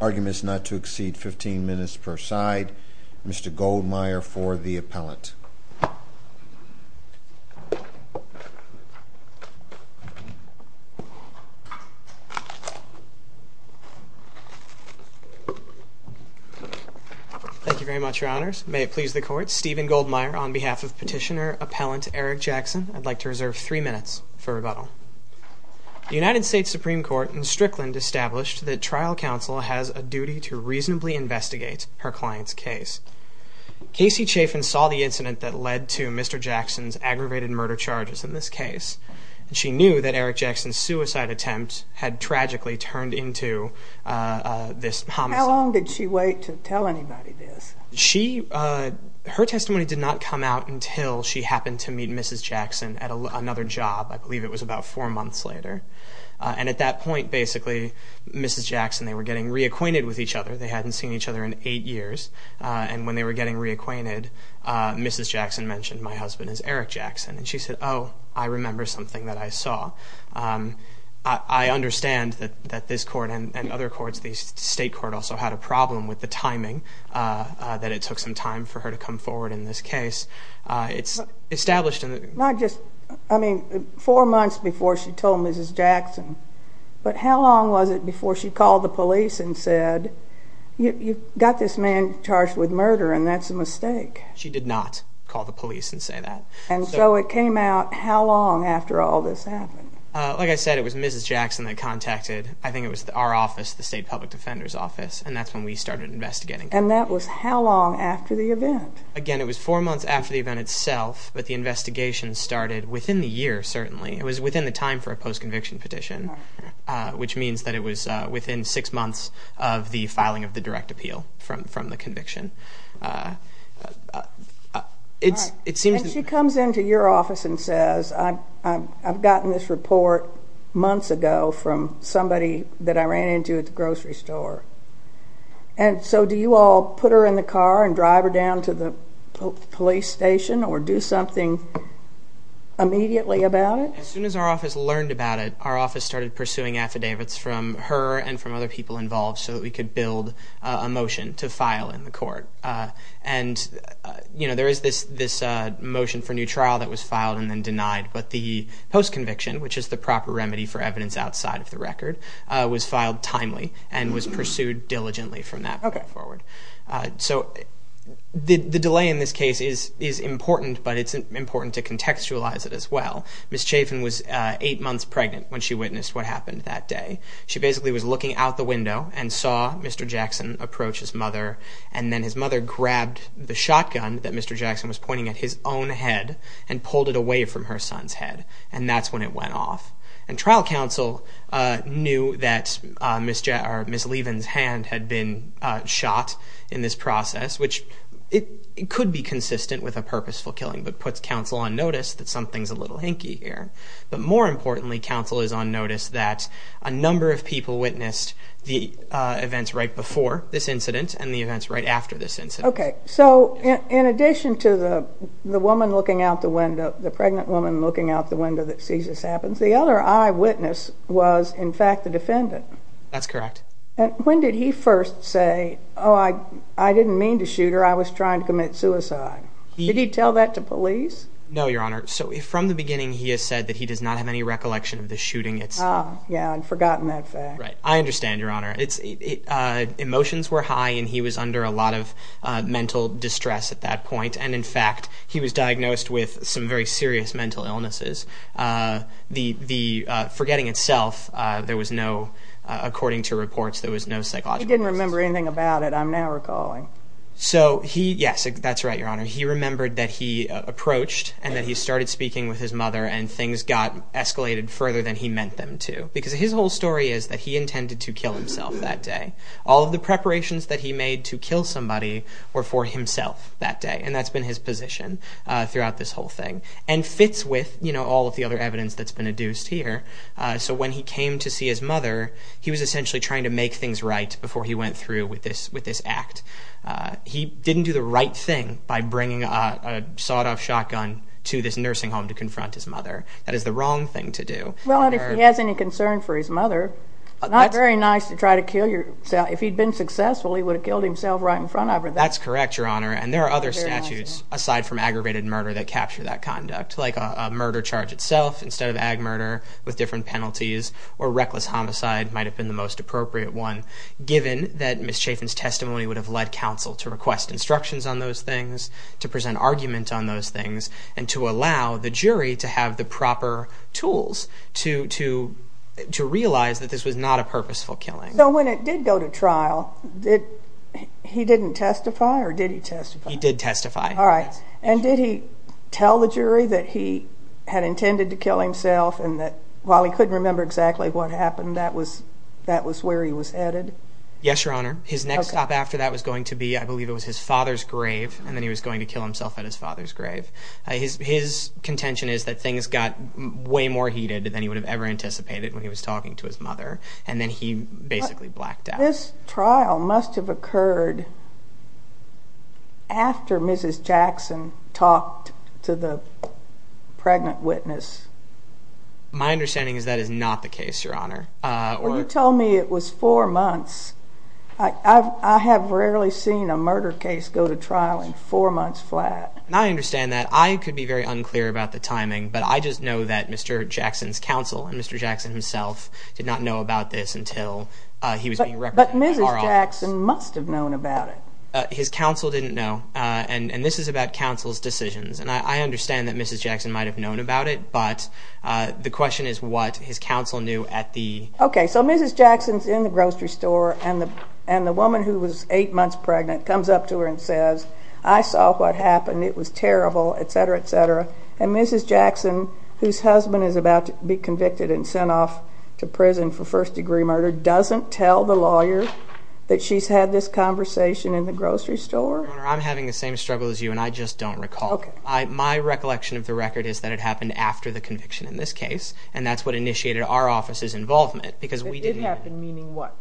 Arguments not to exceed 15 Minutes per side. Mr Goldmeyer for the appellant. Mhm. Mhm. Mhm. Mhm. Mhm. Mhm. Mhm. Mhm. Thank you very much, your honors. May it please the court, Stephen Goldmeyer on behalf of petitioner appellant Eric Jackson. I'd like to reserve three minutes for rebuttal. The United States Supreme Court in Strickland established that trial counsel has a duty to reasonably investigate her client's case. Casey Chafin saw the incident that led to Mr Jackson's aggravated murder charges in this case, and she knew that Eric Jackson's suicide attempt had tragically turned into this homicide. How long did she wait to tell anybody this? She, her testimony did not come out until she happened to meet Mrs Jackson at another job. I believe it was about four months later. And at that point, basically Mrs Jackson, they were getting reacquainted with each other. They hadn't seen each other in eight years. And when they were getting reacquainted, Mrs Jackson mentioned my husband as Eric Jackson. And she said oh, I remember something that I saw. I understand that this court and other courts, the state court also had a problem with the timing, that it took some time for her to come forward in this case. It's established in the Not just, I mean, four months before she told Mrs Jackson. But how long was it before she called the police and said you've got this man charged with murder and that's a mistake? She did not call the police and say that. And so it came out, how long after all this happened? Like I said, it was Mrs Jackson that contacted, I think it was our office, the State Public Defender's Office, and that's when we started investigating. And that was how long after the event? Again, it was four months after the event itself, but the investigation started within the year, certainly. It was within the time for a post-conviction petition, which means that it was within six months of the filing of the direct appeal from the conviction. And she comes into your office and says I've gotten this report months ago from somebody that I ran into at the grocery store. And so do you all put her in the car and drive her down to the police station or do something immediately about it? As soon as our office learned about it, our office started pursuing affidavits from her and from other people involved so that we could build a motion to file in the court. And there is this motion for new trial that was filed and then denied, but the post-conviction, which is the proper remedy for evidence outside of the record, was filed timely and was pursued diligently from that point forward. So the delay in this case is important, but it's important to contextualize it as well. Ms. Chafin was eight months pregnant when she witnessed what happened that day. She basically was looking out the window and saw Mr. Jackson approach his mother, and then his mother grabbed the shotgun that Mr. Jackson was pointing at his own head and pulled it away from her son's head, and that's when it went off. And trial counsel knew that Ms. Levin's hand had been shot in this process, which could be consistent with a purposeful killing, but puts counsel on notice that something's a little hinky here. But more importantly, counsel is on notice that a number of people witnessed the events right before this incident and the events right after this incident. Okay, so in addition to the woman looking out the window, the pregnant woman looking out the window that sees this happen, the other eyewitness was, in fact, the defendant. That's correct. When did he first say, oh, I didn't mean to shoot her, I was trying to commit suicide? Did he tell that to police? No, Your Honor. So from the beginning he has said that he does not have any recollection of the shooting itself. Ah, yeah, I'd forgotten that fact. Right. I understand, Your Honor. Emotions were high and he was under a lot of mental distress at that point, and in fact he was diagnosed with some very serious mental illnesses. The forgetting itself, there was no, according to reports, there was no psychological... He didn't remember anything about it, I'm now recalling. So he, yes, that's right, Your Honor. He remembered that he approached and that he started speaking with his mother and things got escalated further than he meant them to. Because his whole story is that he intended to kill himself that day. All of the preparations that he made to kill somebody were for himself that day, and that's been his position throughout this whole thing. And fits with, you know, all of the other evidence that's been adduced here. So when he came to see his mother, he was essentially trying to make things right before he went through with this act. He didn't do the right thing by bringing a sawed-off shotgun to this nursing home to confront his mother. That is the wrong thing to do. Well, and if he has any concern for his mother, it's not very nice to try to kill yourself. If he'd been successful, he would have killed himself right in front of her. That's correct, Your Honor. And there are other statutes, aside from aggravated murder, that capture that conduct. Like a murder charge itself, instead of ag murder, with different penalties, or reckless homicide might have been the most appropriate one, given that Ms. Chafin's testimony would have led counsel to request instructions on those things, to present argument on those things, and to allow the jury to have the proper tools to realize that this was not a purposeful killing. So when it did go to trial, he didn't testify, or did he testify? He did testify. All right. And did he tell the jury that he had intended to kill himself and that while he couldn't remember exactly what happened, that was where he was headed? Yes, Your Honor. His next stop after that was going to be, I believe it was his father's grave, and then he was going to kill himself at his father's grave. His contention is that things got way more heated than he would have ever anticipated when he was talking to his mother, and then he basically blacked out. This trial must have occurred after Mrs. Jackson talked to the pregnant witness. My understanding is that is not the case, Your Honor. You told me it was four months. I have rarely seen a murder case go to trial in the past. I could be very unclear about the timing, but I just know that Mr. Jackson's counsel and Mr. Jackson himself did not know about this until he was being represented at our office. But Mrs. Jackson must have known about it. His counsel didn't know, and this is about counsel's decisions, and I understand that Mrs. Jackson might have known about it, but the question is what his counsel knew at the... Okay, so Mrs. Jackson's in the grocery store, and the woman who was eight months pregnant comes up to her and says, I saw what happened. It was terrible, etc., etc., and Mrs. Jackson, whose husband is about to be convicted and sent off to prison for first-degree murder, doesn't tell the lawyer that she's had this conversation in the grocery store? Your Honor, I'm having the same struggle as you, and I just don't recall. Okay. My recollection of the record is that it happened after the conviction in this case, and that's what initiated our office's involvement, because we didn't... It happened meaning what?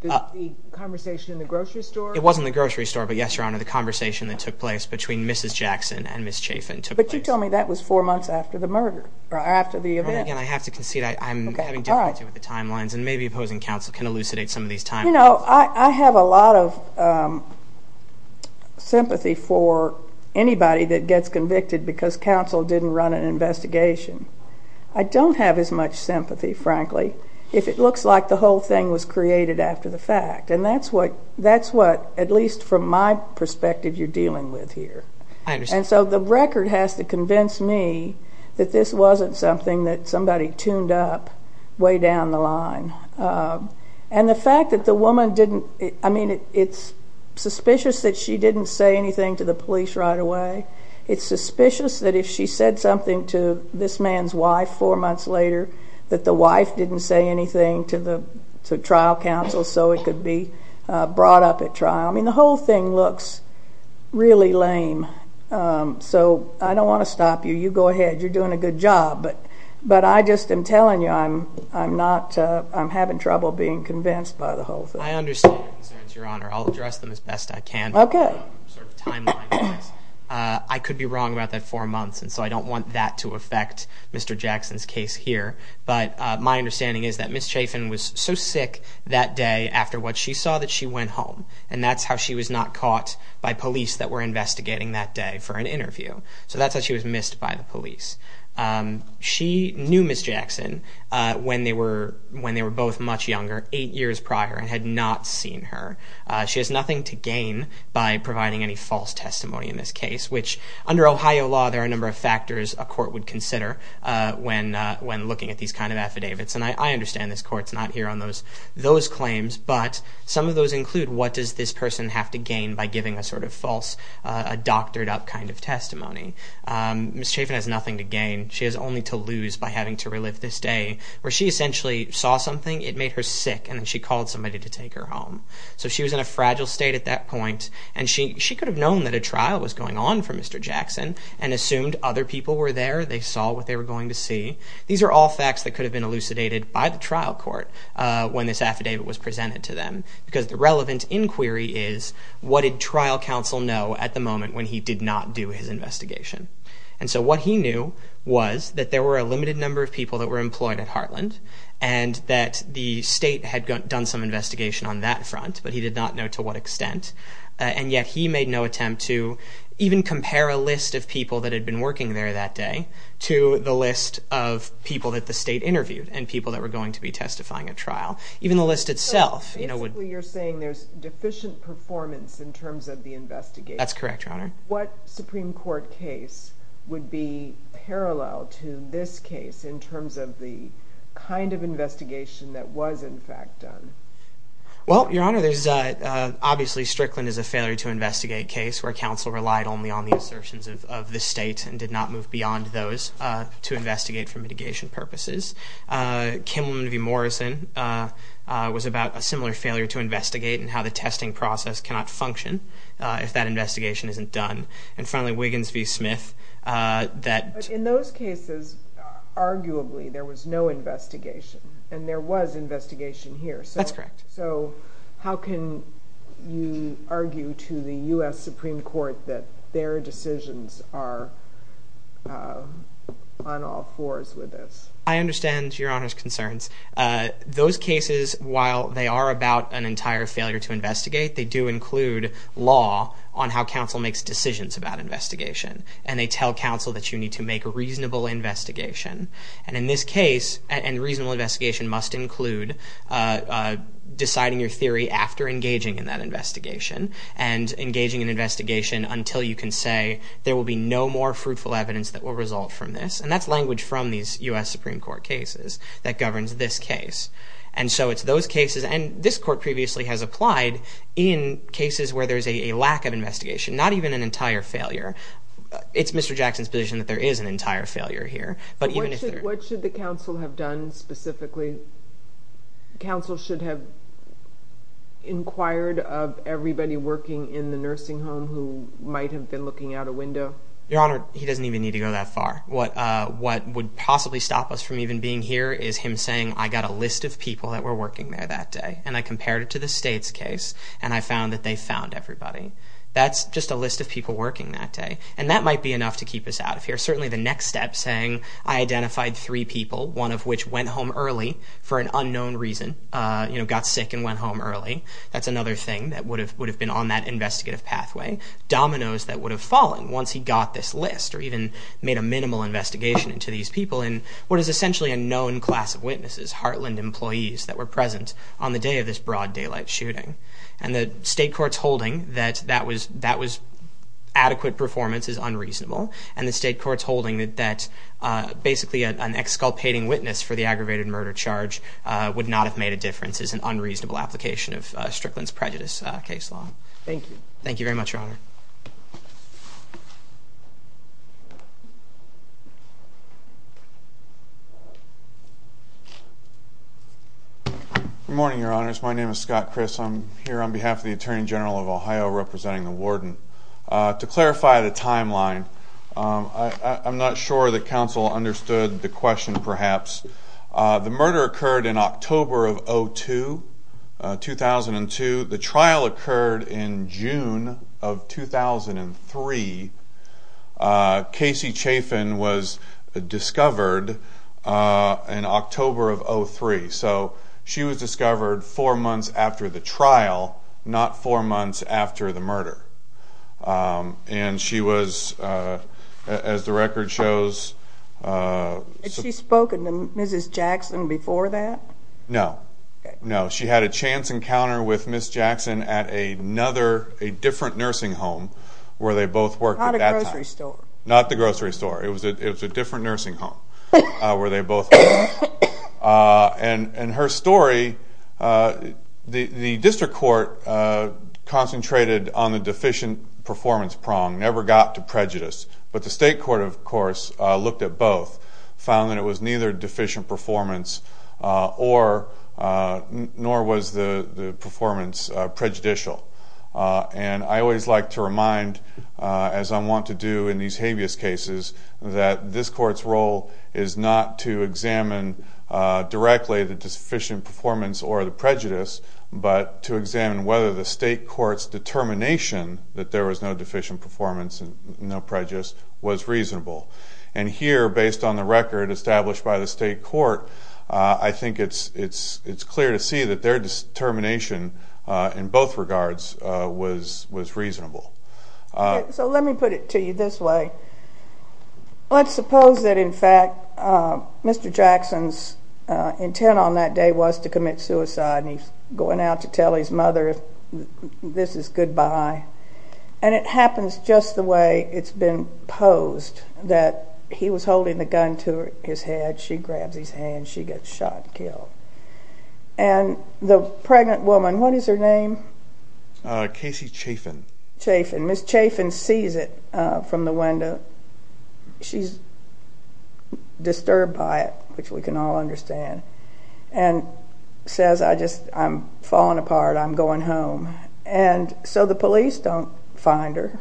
The conversation in the grocery store? It wasn't the grocery store, but yes, Your Honor, the conversation that took place between Mrs. Jackson and Ms. Chafin took place. But you told me that was four months after the murder, or after the event. Your Honor, again, I have to concede I'm having difficulty with the timelines, and maybe opposing counsel can elucidate some of these timelines. You know, I have a lot of sympathy for anybody that gets convicted because counsel didn't run an investigation. I don't have as much sympathy, frankly, if it looks like the whole thing was created after the fact, and that's what, at least from my perspective, you're dealing with here. I understand. And so the record has to convince me that this wasn't something that somebody tuned up way down the line. And the fact that the woman didn't... I mean, it's suspicious that she didn't say anything to the police right away. It's suspicious that if she said something to this man's wife four months later, that the wife didn't say anything to the trial counsel so it could be brought up at trial. I mean, the whole thing looks really lame. So, I don't want to stop you. You go ahead. You're doing a good job, but I just am telling you I'm not... I'm having trouble being convinced by the whole thing. I understand your concerns, Your Honor. I'll address them as best I can. Okay. I could be wrong about that four months, and so I don't want that to affect Mr. Jackson's case here, but my understanding is that Ms. Chafin was so sick that day after what she saw that she went home, and that's how she was not caught by police that were investigating that day for an interview. So that's how she was missed by the police. She knew Ms. Jackson when they were both much younger, eight years prior, and had not seen her. She has nothing to gain by providing any false testimony in this case, which under Ohio law, there are a number of factors a court would consider when looking at these kind of affidavits, and I understand this court's not here on those claims, but some of those include what does this person have to gain by giving a sort of false, doctored-up kind of testimony. Ms. Chafin has nothing to gain. She has only to lose by having to relive this day where she essentially saw something, it made her sick, and then she called somebody to take her home. So she was in a fragile state at that point, and she could have known that a trial was going on for Mr. Jackson and assumed other people were there, they saw what they were going to see. These are all facts that could have been elucidated by the trial court when this affidavit was presented to them, because the relevant inquiry is, what did trial counsel know at the moment when he did not do his investigation? And so what he knew was that there were a limited number of people that were employed at Heartland, and that the state had done some investigation on that front, but he did not know to what extent, and yet he made no attempt to even compare a list of people that had been working there that day to the list of people that the state interviewed, and people that were going to be testifying at trial. Even the list itself, you know, would... So basically you're saying there's deficient performance in terms of the investigation. That's correct, Your Honor. What Supreme Court case would be parallel to this case in terms of the kind of investigation that was in fact done? Well, Your Honor, there's obviously Strickland is a failure to investigate case where counsel relied only on the assertions of the state and did not move beyond those to investigate for mitigation purposes. Kimelman v. Morrison was about a similar failure to investigate and how the testing process cannot function if that investigation isn't done. And finally, Wiggins v. Smith that... But in those cases, arguably, there was no investigation, and there was investigation here. That's correct. So how can you tell the Supreme Court that their decisions are on all fours with this? I understand Your Honor's concerns. Those cases, while they are about an entire failure to investigate, they do include law on how counsel makes decisions about investigation. And they tell counsel that you need to make a reasonable investigation. And in this case, and reasonable investigation must include deciding your theory after engaging in that investigation until you can say there will be no more fruitful evidence that will result from this. And that's language from these U.S. Supreme Court cases that governs this case. And so it's those cases, and this court previously has applied in cases where there's a lack of investigation, not even an entire failure. It's Mr. Jackson's position that there is an entire failure here. What should the counsel have done specifically? Counsel should have inquired of everybody working in the nursing home who might have been looking out a window. Your Honor, he doesn't even need to go that far. What would possibly stop us from even being here is him saying, I got a list of people that were working there that day. And I compared it to the state's case and I found that they found everybody. That's just a list of people working that day. And that might be enough to keep us out of here. Certainly the next step, saying I identified three people, one of which went home early for an unknown reason. You know, got sick and went home early. That's another thing that would have been on that investigative pathway. Dominoes that would have fallen once he got this list or even made a minimal investigation into these people in what is essentially a known class of witnesses. Heartland employees that were present on the day of this broad daylight shooting. And the state court's holding that that was adequate performance is unreasonable. And the state court's holding that basically an exculpating witness for the aggravated murder charge would not have made a difference. It's an unreasonable application of Strickland's prejudice case law. Thank you. Thank you very much, Your Honor. Good morning, Your Honors. My name is Scott Criss. I'm here on behalf of the Attorney General of Ohio, representing the Warden. To clarify the timeline, I'm not sure that counsel understood the question, perhaps. The murder occurred in October of 2002. The trial occurred in June of 2003. Casey Chafin was discovered in October of 2003. So she was discovered four months after the trial, not four months after the murder. And she was, as the record shows... Had she spoken to Mrs. Jackson before that? No. No. She had a chance encounter with Ms. Jackson at a different nursing home where they both worked at that time. Not a grocery store. Not the grocery store. It was a different nursing home where they both worked. And her story, the district court concentrated on the deficient performance prong, never got to prejudice. But the state court, of course, looked at both, found that it was neither deficient performance nor was the performance prejudicial. And I always like to remind, as I want to do in these habeas cases, that this court's role is not to examine directly the deficient performance or the prejudice, but to examine whether the state court's determination that there was no deficient performance and no and here, based on the record established by the state court, I think it's clear to see that their determination in both regards was reasonable. So let me put it to you this way. Let's suppose that in fact Mr. Jackson's intent on that day was to commit suicide and he's going out to tell his mother this is goodbye. And it happens just the way it's been posed, that he was holding the gun to his head, she grabs his hand, she gets shot, killed. And the pregnant woman, what is her name? Casey Chafin. Ms. Chafin sees it from the window. She's disturbed by it, which we can all understand, and says, I'm falling apart, I'm going home. And so the police don't find her.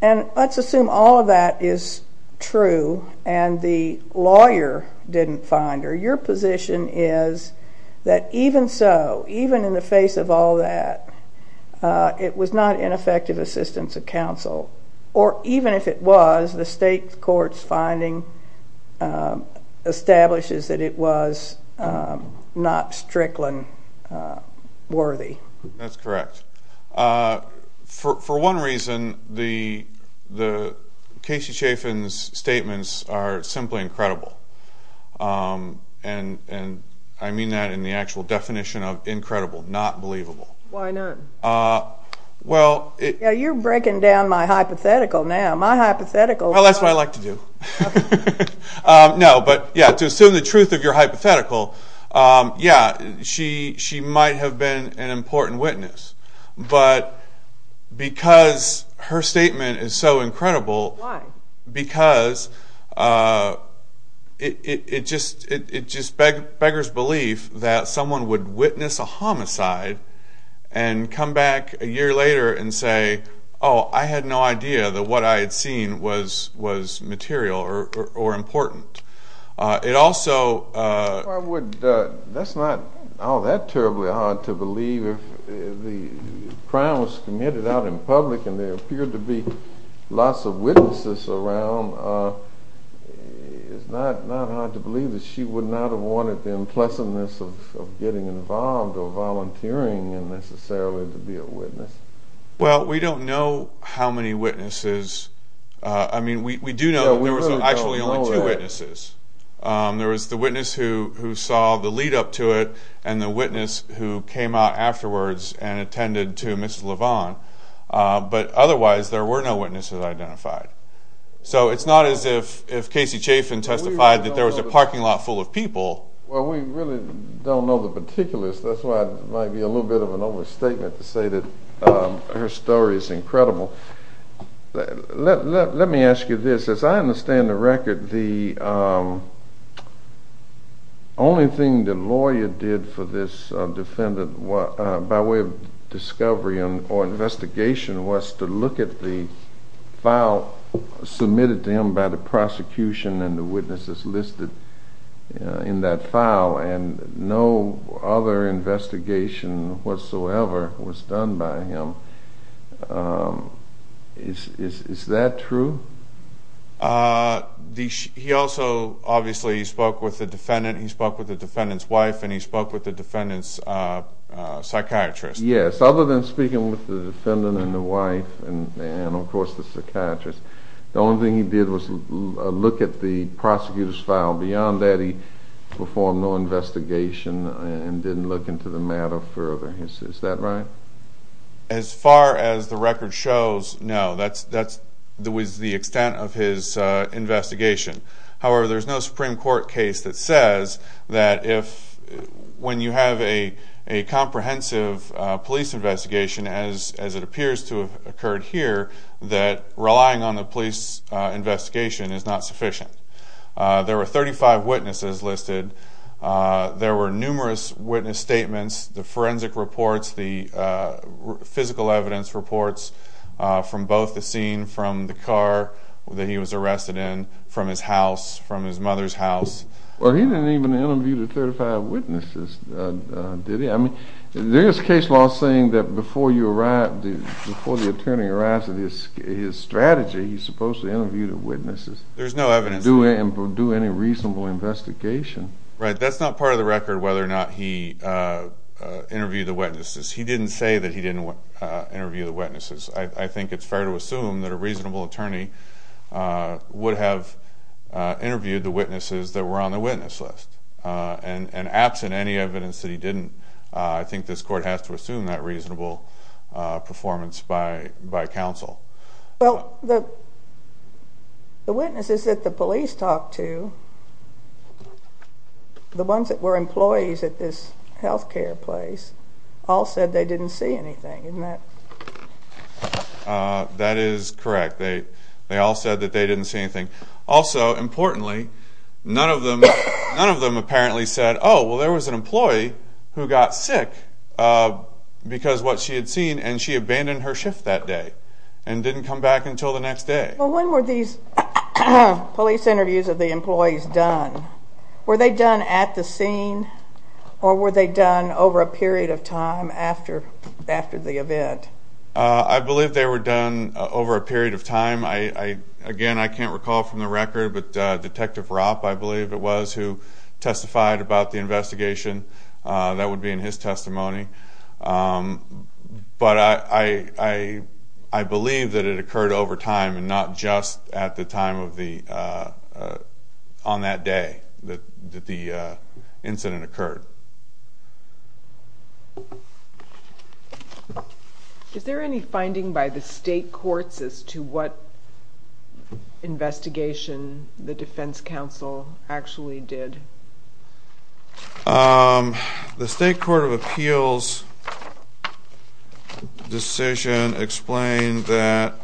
And let's assume all of that is true and the lawyer didn't find her. Your position is that even so, even in the face of all that, it was not ineffective assistance of counsel. Or even if it was, the state court's finding establishes that it was not Strickland worthy. That's correct. For one reason, Casey Chafin's statements are simply incredible. And I mean that in the actual definition of incredible, not believable. Why not? You're breaking down my hypothetical now. My hypothetical... That's what I like to do. To assume the truth of your hypothetical, yeah, she might have been an important witness, but because her statement is so incredible, because it just beggars belief that someone would witness a homicide and come back a year later and say, oh, I had no idea that what I had seen was material or important. It also... That's not all that terribly hard to believe. If the crime was committed out in public and there appeared to be lots of witnesses around, it's not hard to believe that she would not have wanted the unpleasantness of getting involved or volunteering necessarily to be a witness. Well, we don't know how many witnesses... I mean, we do know that there was actually only two witnesses. There was the witness who saw the lead-up to it, and the witness who came out afterwards and attended to Ms. LeVon. But otherwise, there were no witnesses identified. So it's not as if Casey Chafin testified that there was a parking lot full of people... Well, we really don't know the particulars. That's why it might be a little bit of an overstatement to say that her story is incredible. Let me ask you this. As I understand the record, the only thing the lawyer did for this defendant by way of discovery or investigation was to look at the file submitted to him by the prosecution and the witnesses listed in that file and no other investigation whatsoever was done by him. Is that true? He also obviously spoke with the defendant. He spoke with the defendant's wife and he spoke with the defendant's psychiatrist. Yes. Other than speaking with the defendant and the wife and of course the psychiatrist, the only thing he did was look at the prosecutor's file. Beyond that, he performed no investigation and didn't look into the matter further. Is that right? As far as the record shows, no. That was the extent of his investigation. However, there's no Supreme Court case that says that if when you have a comprehensive police investigation as it appears to have occurred here, that relying on the police investigation is not sufficient. There were 35 witnesses listed. There were numerous witness statements. The forensic reports, the physical evidence reports from both the scene from the car that he was arrested in, from his house, from his mother's house. He didn't even interview the 35 witnesses, did he? There is case law saying that before the attorney arrives at his strategy, he's supposed to interview the witnesses. There's no evidence. Do any reasonable investigation. That's not part of the record whether or not he interviewed the witnesses. He didn't say that he didn't interview the witnesses. I think it's fair to assume that a reasonable attorney would have interviewed the witnesses that were on the witness list. Absent any evidence that he didn't, I think this court has to assume that reasonable performance by counsel. The witnesses that the police talked to, the ones that were employees at this health care place, all said they didn't see anything, didn't they? That is correct. They all said that they didn't see anything. Also, importantly, none of them apparently said, oh, well there was an employee who got sick because of what she had seen and she abandoned her shift that day and didn't come back until the next day. When were these police interviews of the employees done? Were they done at the scene or were they done over a period of time after the event? I believe they were done over a period of time. Again, I can't recall from the record, but Detective Ropp, I believe it was, who testified about the investigation. That would be in his testimony. But I believe that it occurred over time and not just at the time of the on that day that the incident occurred. Is there any finding by the state courts as to what investigation the defense council actually did? The state court of appeals decision explained that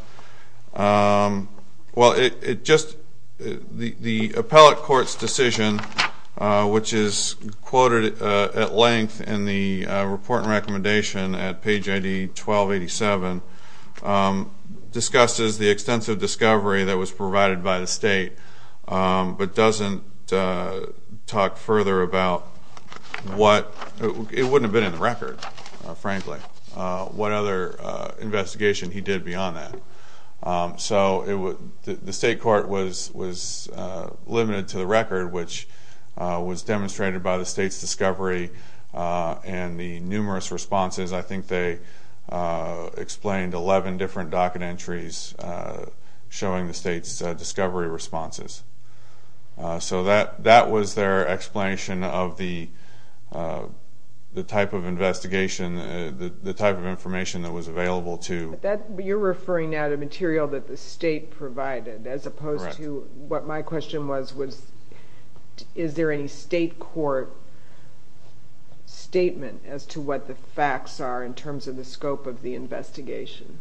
well, it just the appellate court's decision which is quoted at length in the report and recommendation at page ID 1287 discusses the extensive discovery that was provided by the state, but doesn't talk further about what it wouldn't have been in the record frankly, what other investigation he did beyond that. So the state court was limited to the record which was demonstrated by the state's discovery and the numerous responses. I think they explained 11 different docket entries showing the state's discovery responses. So that was their explanation of the type of investigation the type of information that was available to... You're referring now to material that the state provided as opposed to what my question was is there any state court statement as to what the facts are in terms of the scope of the investigation?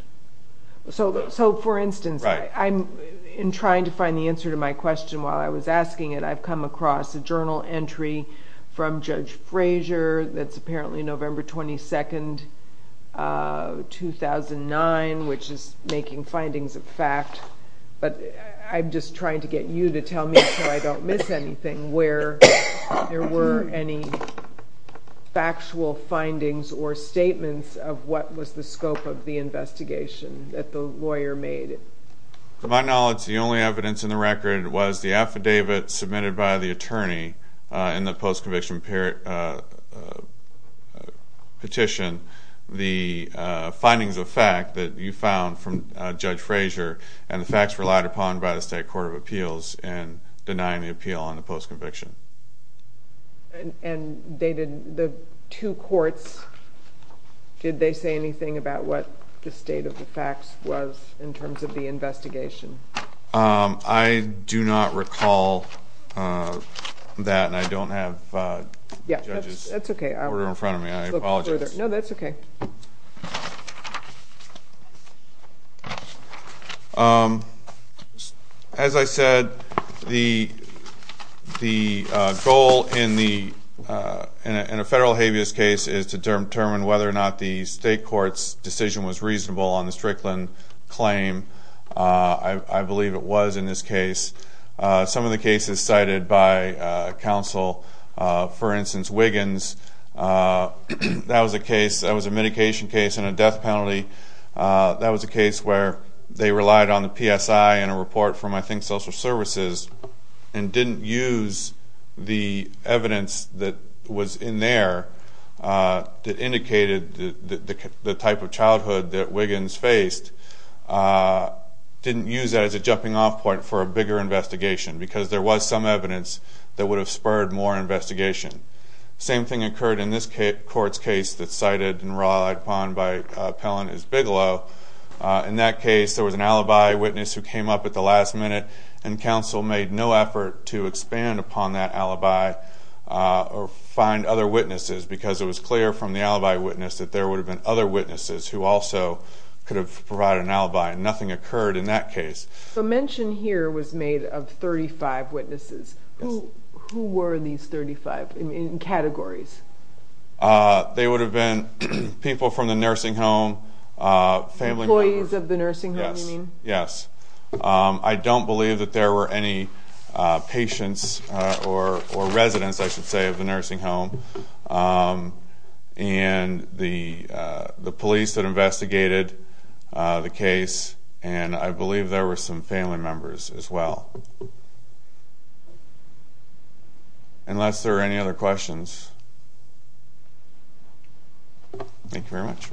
So for instance, in trying to find the answer to my question while I was reading the entry from Judge Frazier that's apparently November 22nd 2009 which is making findings of fact but I'm just trying to get you to tell me so I don't miss anything where there were any factual findings or statements of what was the scope of the investigation that the lawyer made. To my knowledge the only evidence in the record was the post-conviction petition the findings of fact that you found from Judge Frazier and the facts relied upon by the state court of appeals in denying the appeal on the post-conviction. And the two courts did they say anything about what the state of the facts was in terms of the investigation? I do not recall that and I don't have the judges order in front of me. I apologize. No that's okay. As I said the goal in the in a federal habeas case is to determine whether or not the state court's decision was reasonable on the Strickland claim I believe it was in this case. Some of the cases cited by counsel for instance Wiggins that was a case that was a medication case and a death penalty that was a case where they relied on the PSI and a report from I think social services and didn't use the evidence that was in there that indicated the type of childhood that Wiggins faced didn't use that as a jumping off point for a bigger investigation because there was some evidence that would have spurred more investigation. Same thing occurred in this court's case that's cited and relied upon by appellant Bigelow. In that case there was an alibi witness who came up at the last minute and counsel made no effort to expand upon that alibi or find other witnesses because it was clear from the alibi witness that there would have been other witnesses who also could have provided an alibi and nothing occurred in that case. The mention here was made of 35 witnesses. Who were these 35 in categories? They would have been people from the nursing home family members. Employees of the nursing home you mean? Yes. I don't believe that there were any patients or residents I should say of the nursing home and the police that investigated the case and I believe there were some family members as well. Unless there are any other questions. Thank you very much.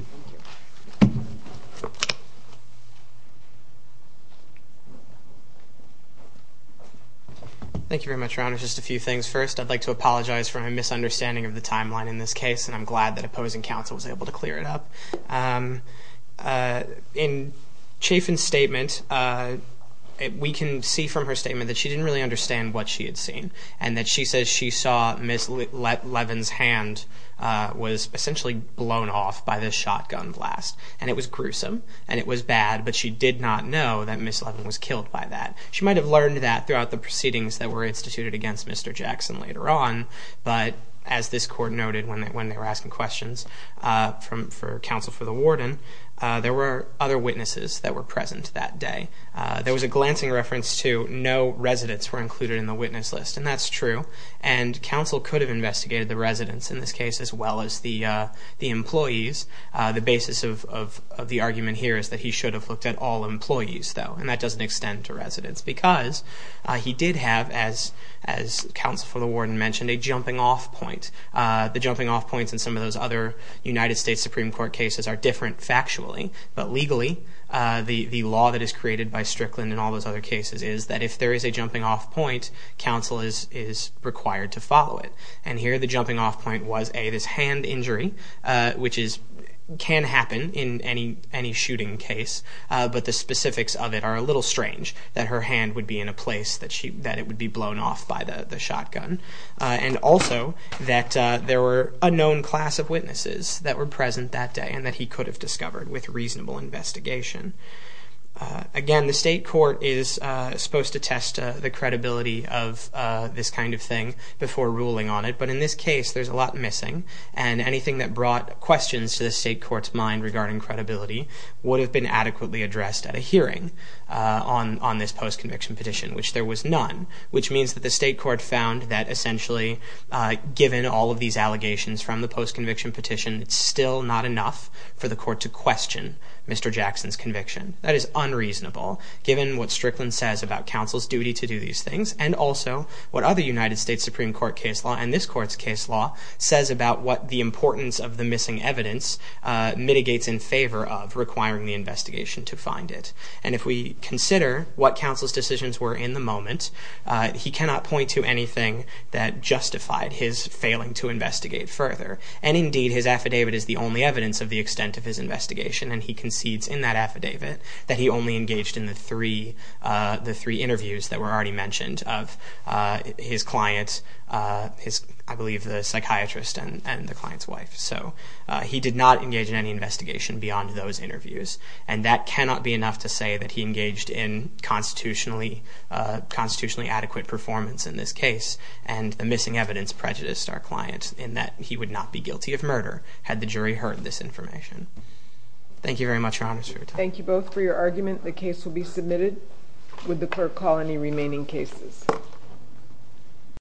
Thank you very much your honor. Just a few things first. I'd like to apologize for my misunderstanding of the timeline in this case and I'm glad that opposing counsel was able to clear it up. Chafin's statement we can see from her statement that she didn't really understand what she had seen. She says she saw Ms. Levin's hand was essentially blown off by this shotgun blast and it was gruesome and it was bad but she did not know that Ms. Levin was killed by that. She might have learned that throughout the proceedings that were instituted against Mr. Jackson later on but as this court noted when they were asking questions for counsel for the warden there were other witnesses that were present that day. There was a glancing reference to no residents were included in the witness list and that's true and counsel could have investigated the residents in this case as well as the employees. The basis of the argument here is that he should have looked at all employees though and that doesn't extend to residents because he did have as counsel for the warden mentioned a jumping off point. The jumping off points in some of those other United States Supreme Court cases are different factually but legally the law that is created by Strickland and all those other cases is that if there is a jumping off point counsel is required to follow it and here the jumping off point was this hand injury which can happen in any shooting case but the specifics of it are a little strange that her hand would be in a place that it would be blown off by the shotgun and also that there were a known class of witnesses that were present that day and that he could have discovered with reasonable investigation. Again the state court is supposed to test the credibility of this kind of thing before ruling on it but in this case there's a lot missing and anything that brought questions to the state court's mind regarding credibility would have been adequately addressed at a hearing on this post-conviction petition which there was none which means that the state court found that essentially given all of these allegations from the post-conviction petition it's still not enough for the court to question Mr. Jackson's conviction. That is unreasonable given what Strickland says about counsel's duty to do these things and also what other United States Supreme Court case law and this court's case law says about what the importance of the missing evidence mitigates in favor of requiring the investigation to find it and if we consider what counsel's decisions were in the moment he cannot point to anything that justified his failing to investigate further and indeed his affidavit is the only evidence of the extent of his investigation and he concedes in that affidavit that he only engaged in the three interviews that were already mentioned of his client I believe the psychiatrist and the client's wife so he did not engage in any investigation beyond those interviews and that cannot be enough to say that he engaged in constitutionally adequate performance in this case and the missing evidence prejudiced our client in that he would not be guilty of murder had the jury heard this information. Thank you very much Your Honor. Thank you both for your argument. The case will be submitted. Would the clerk call any remaining cases?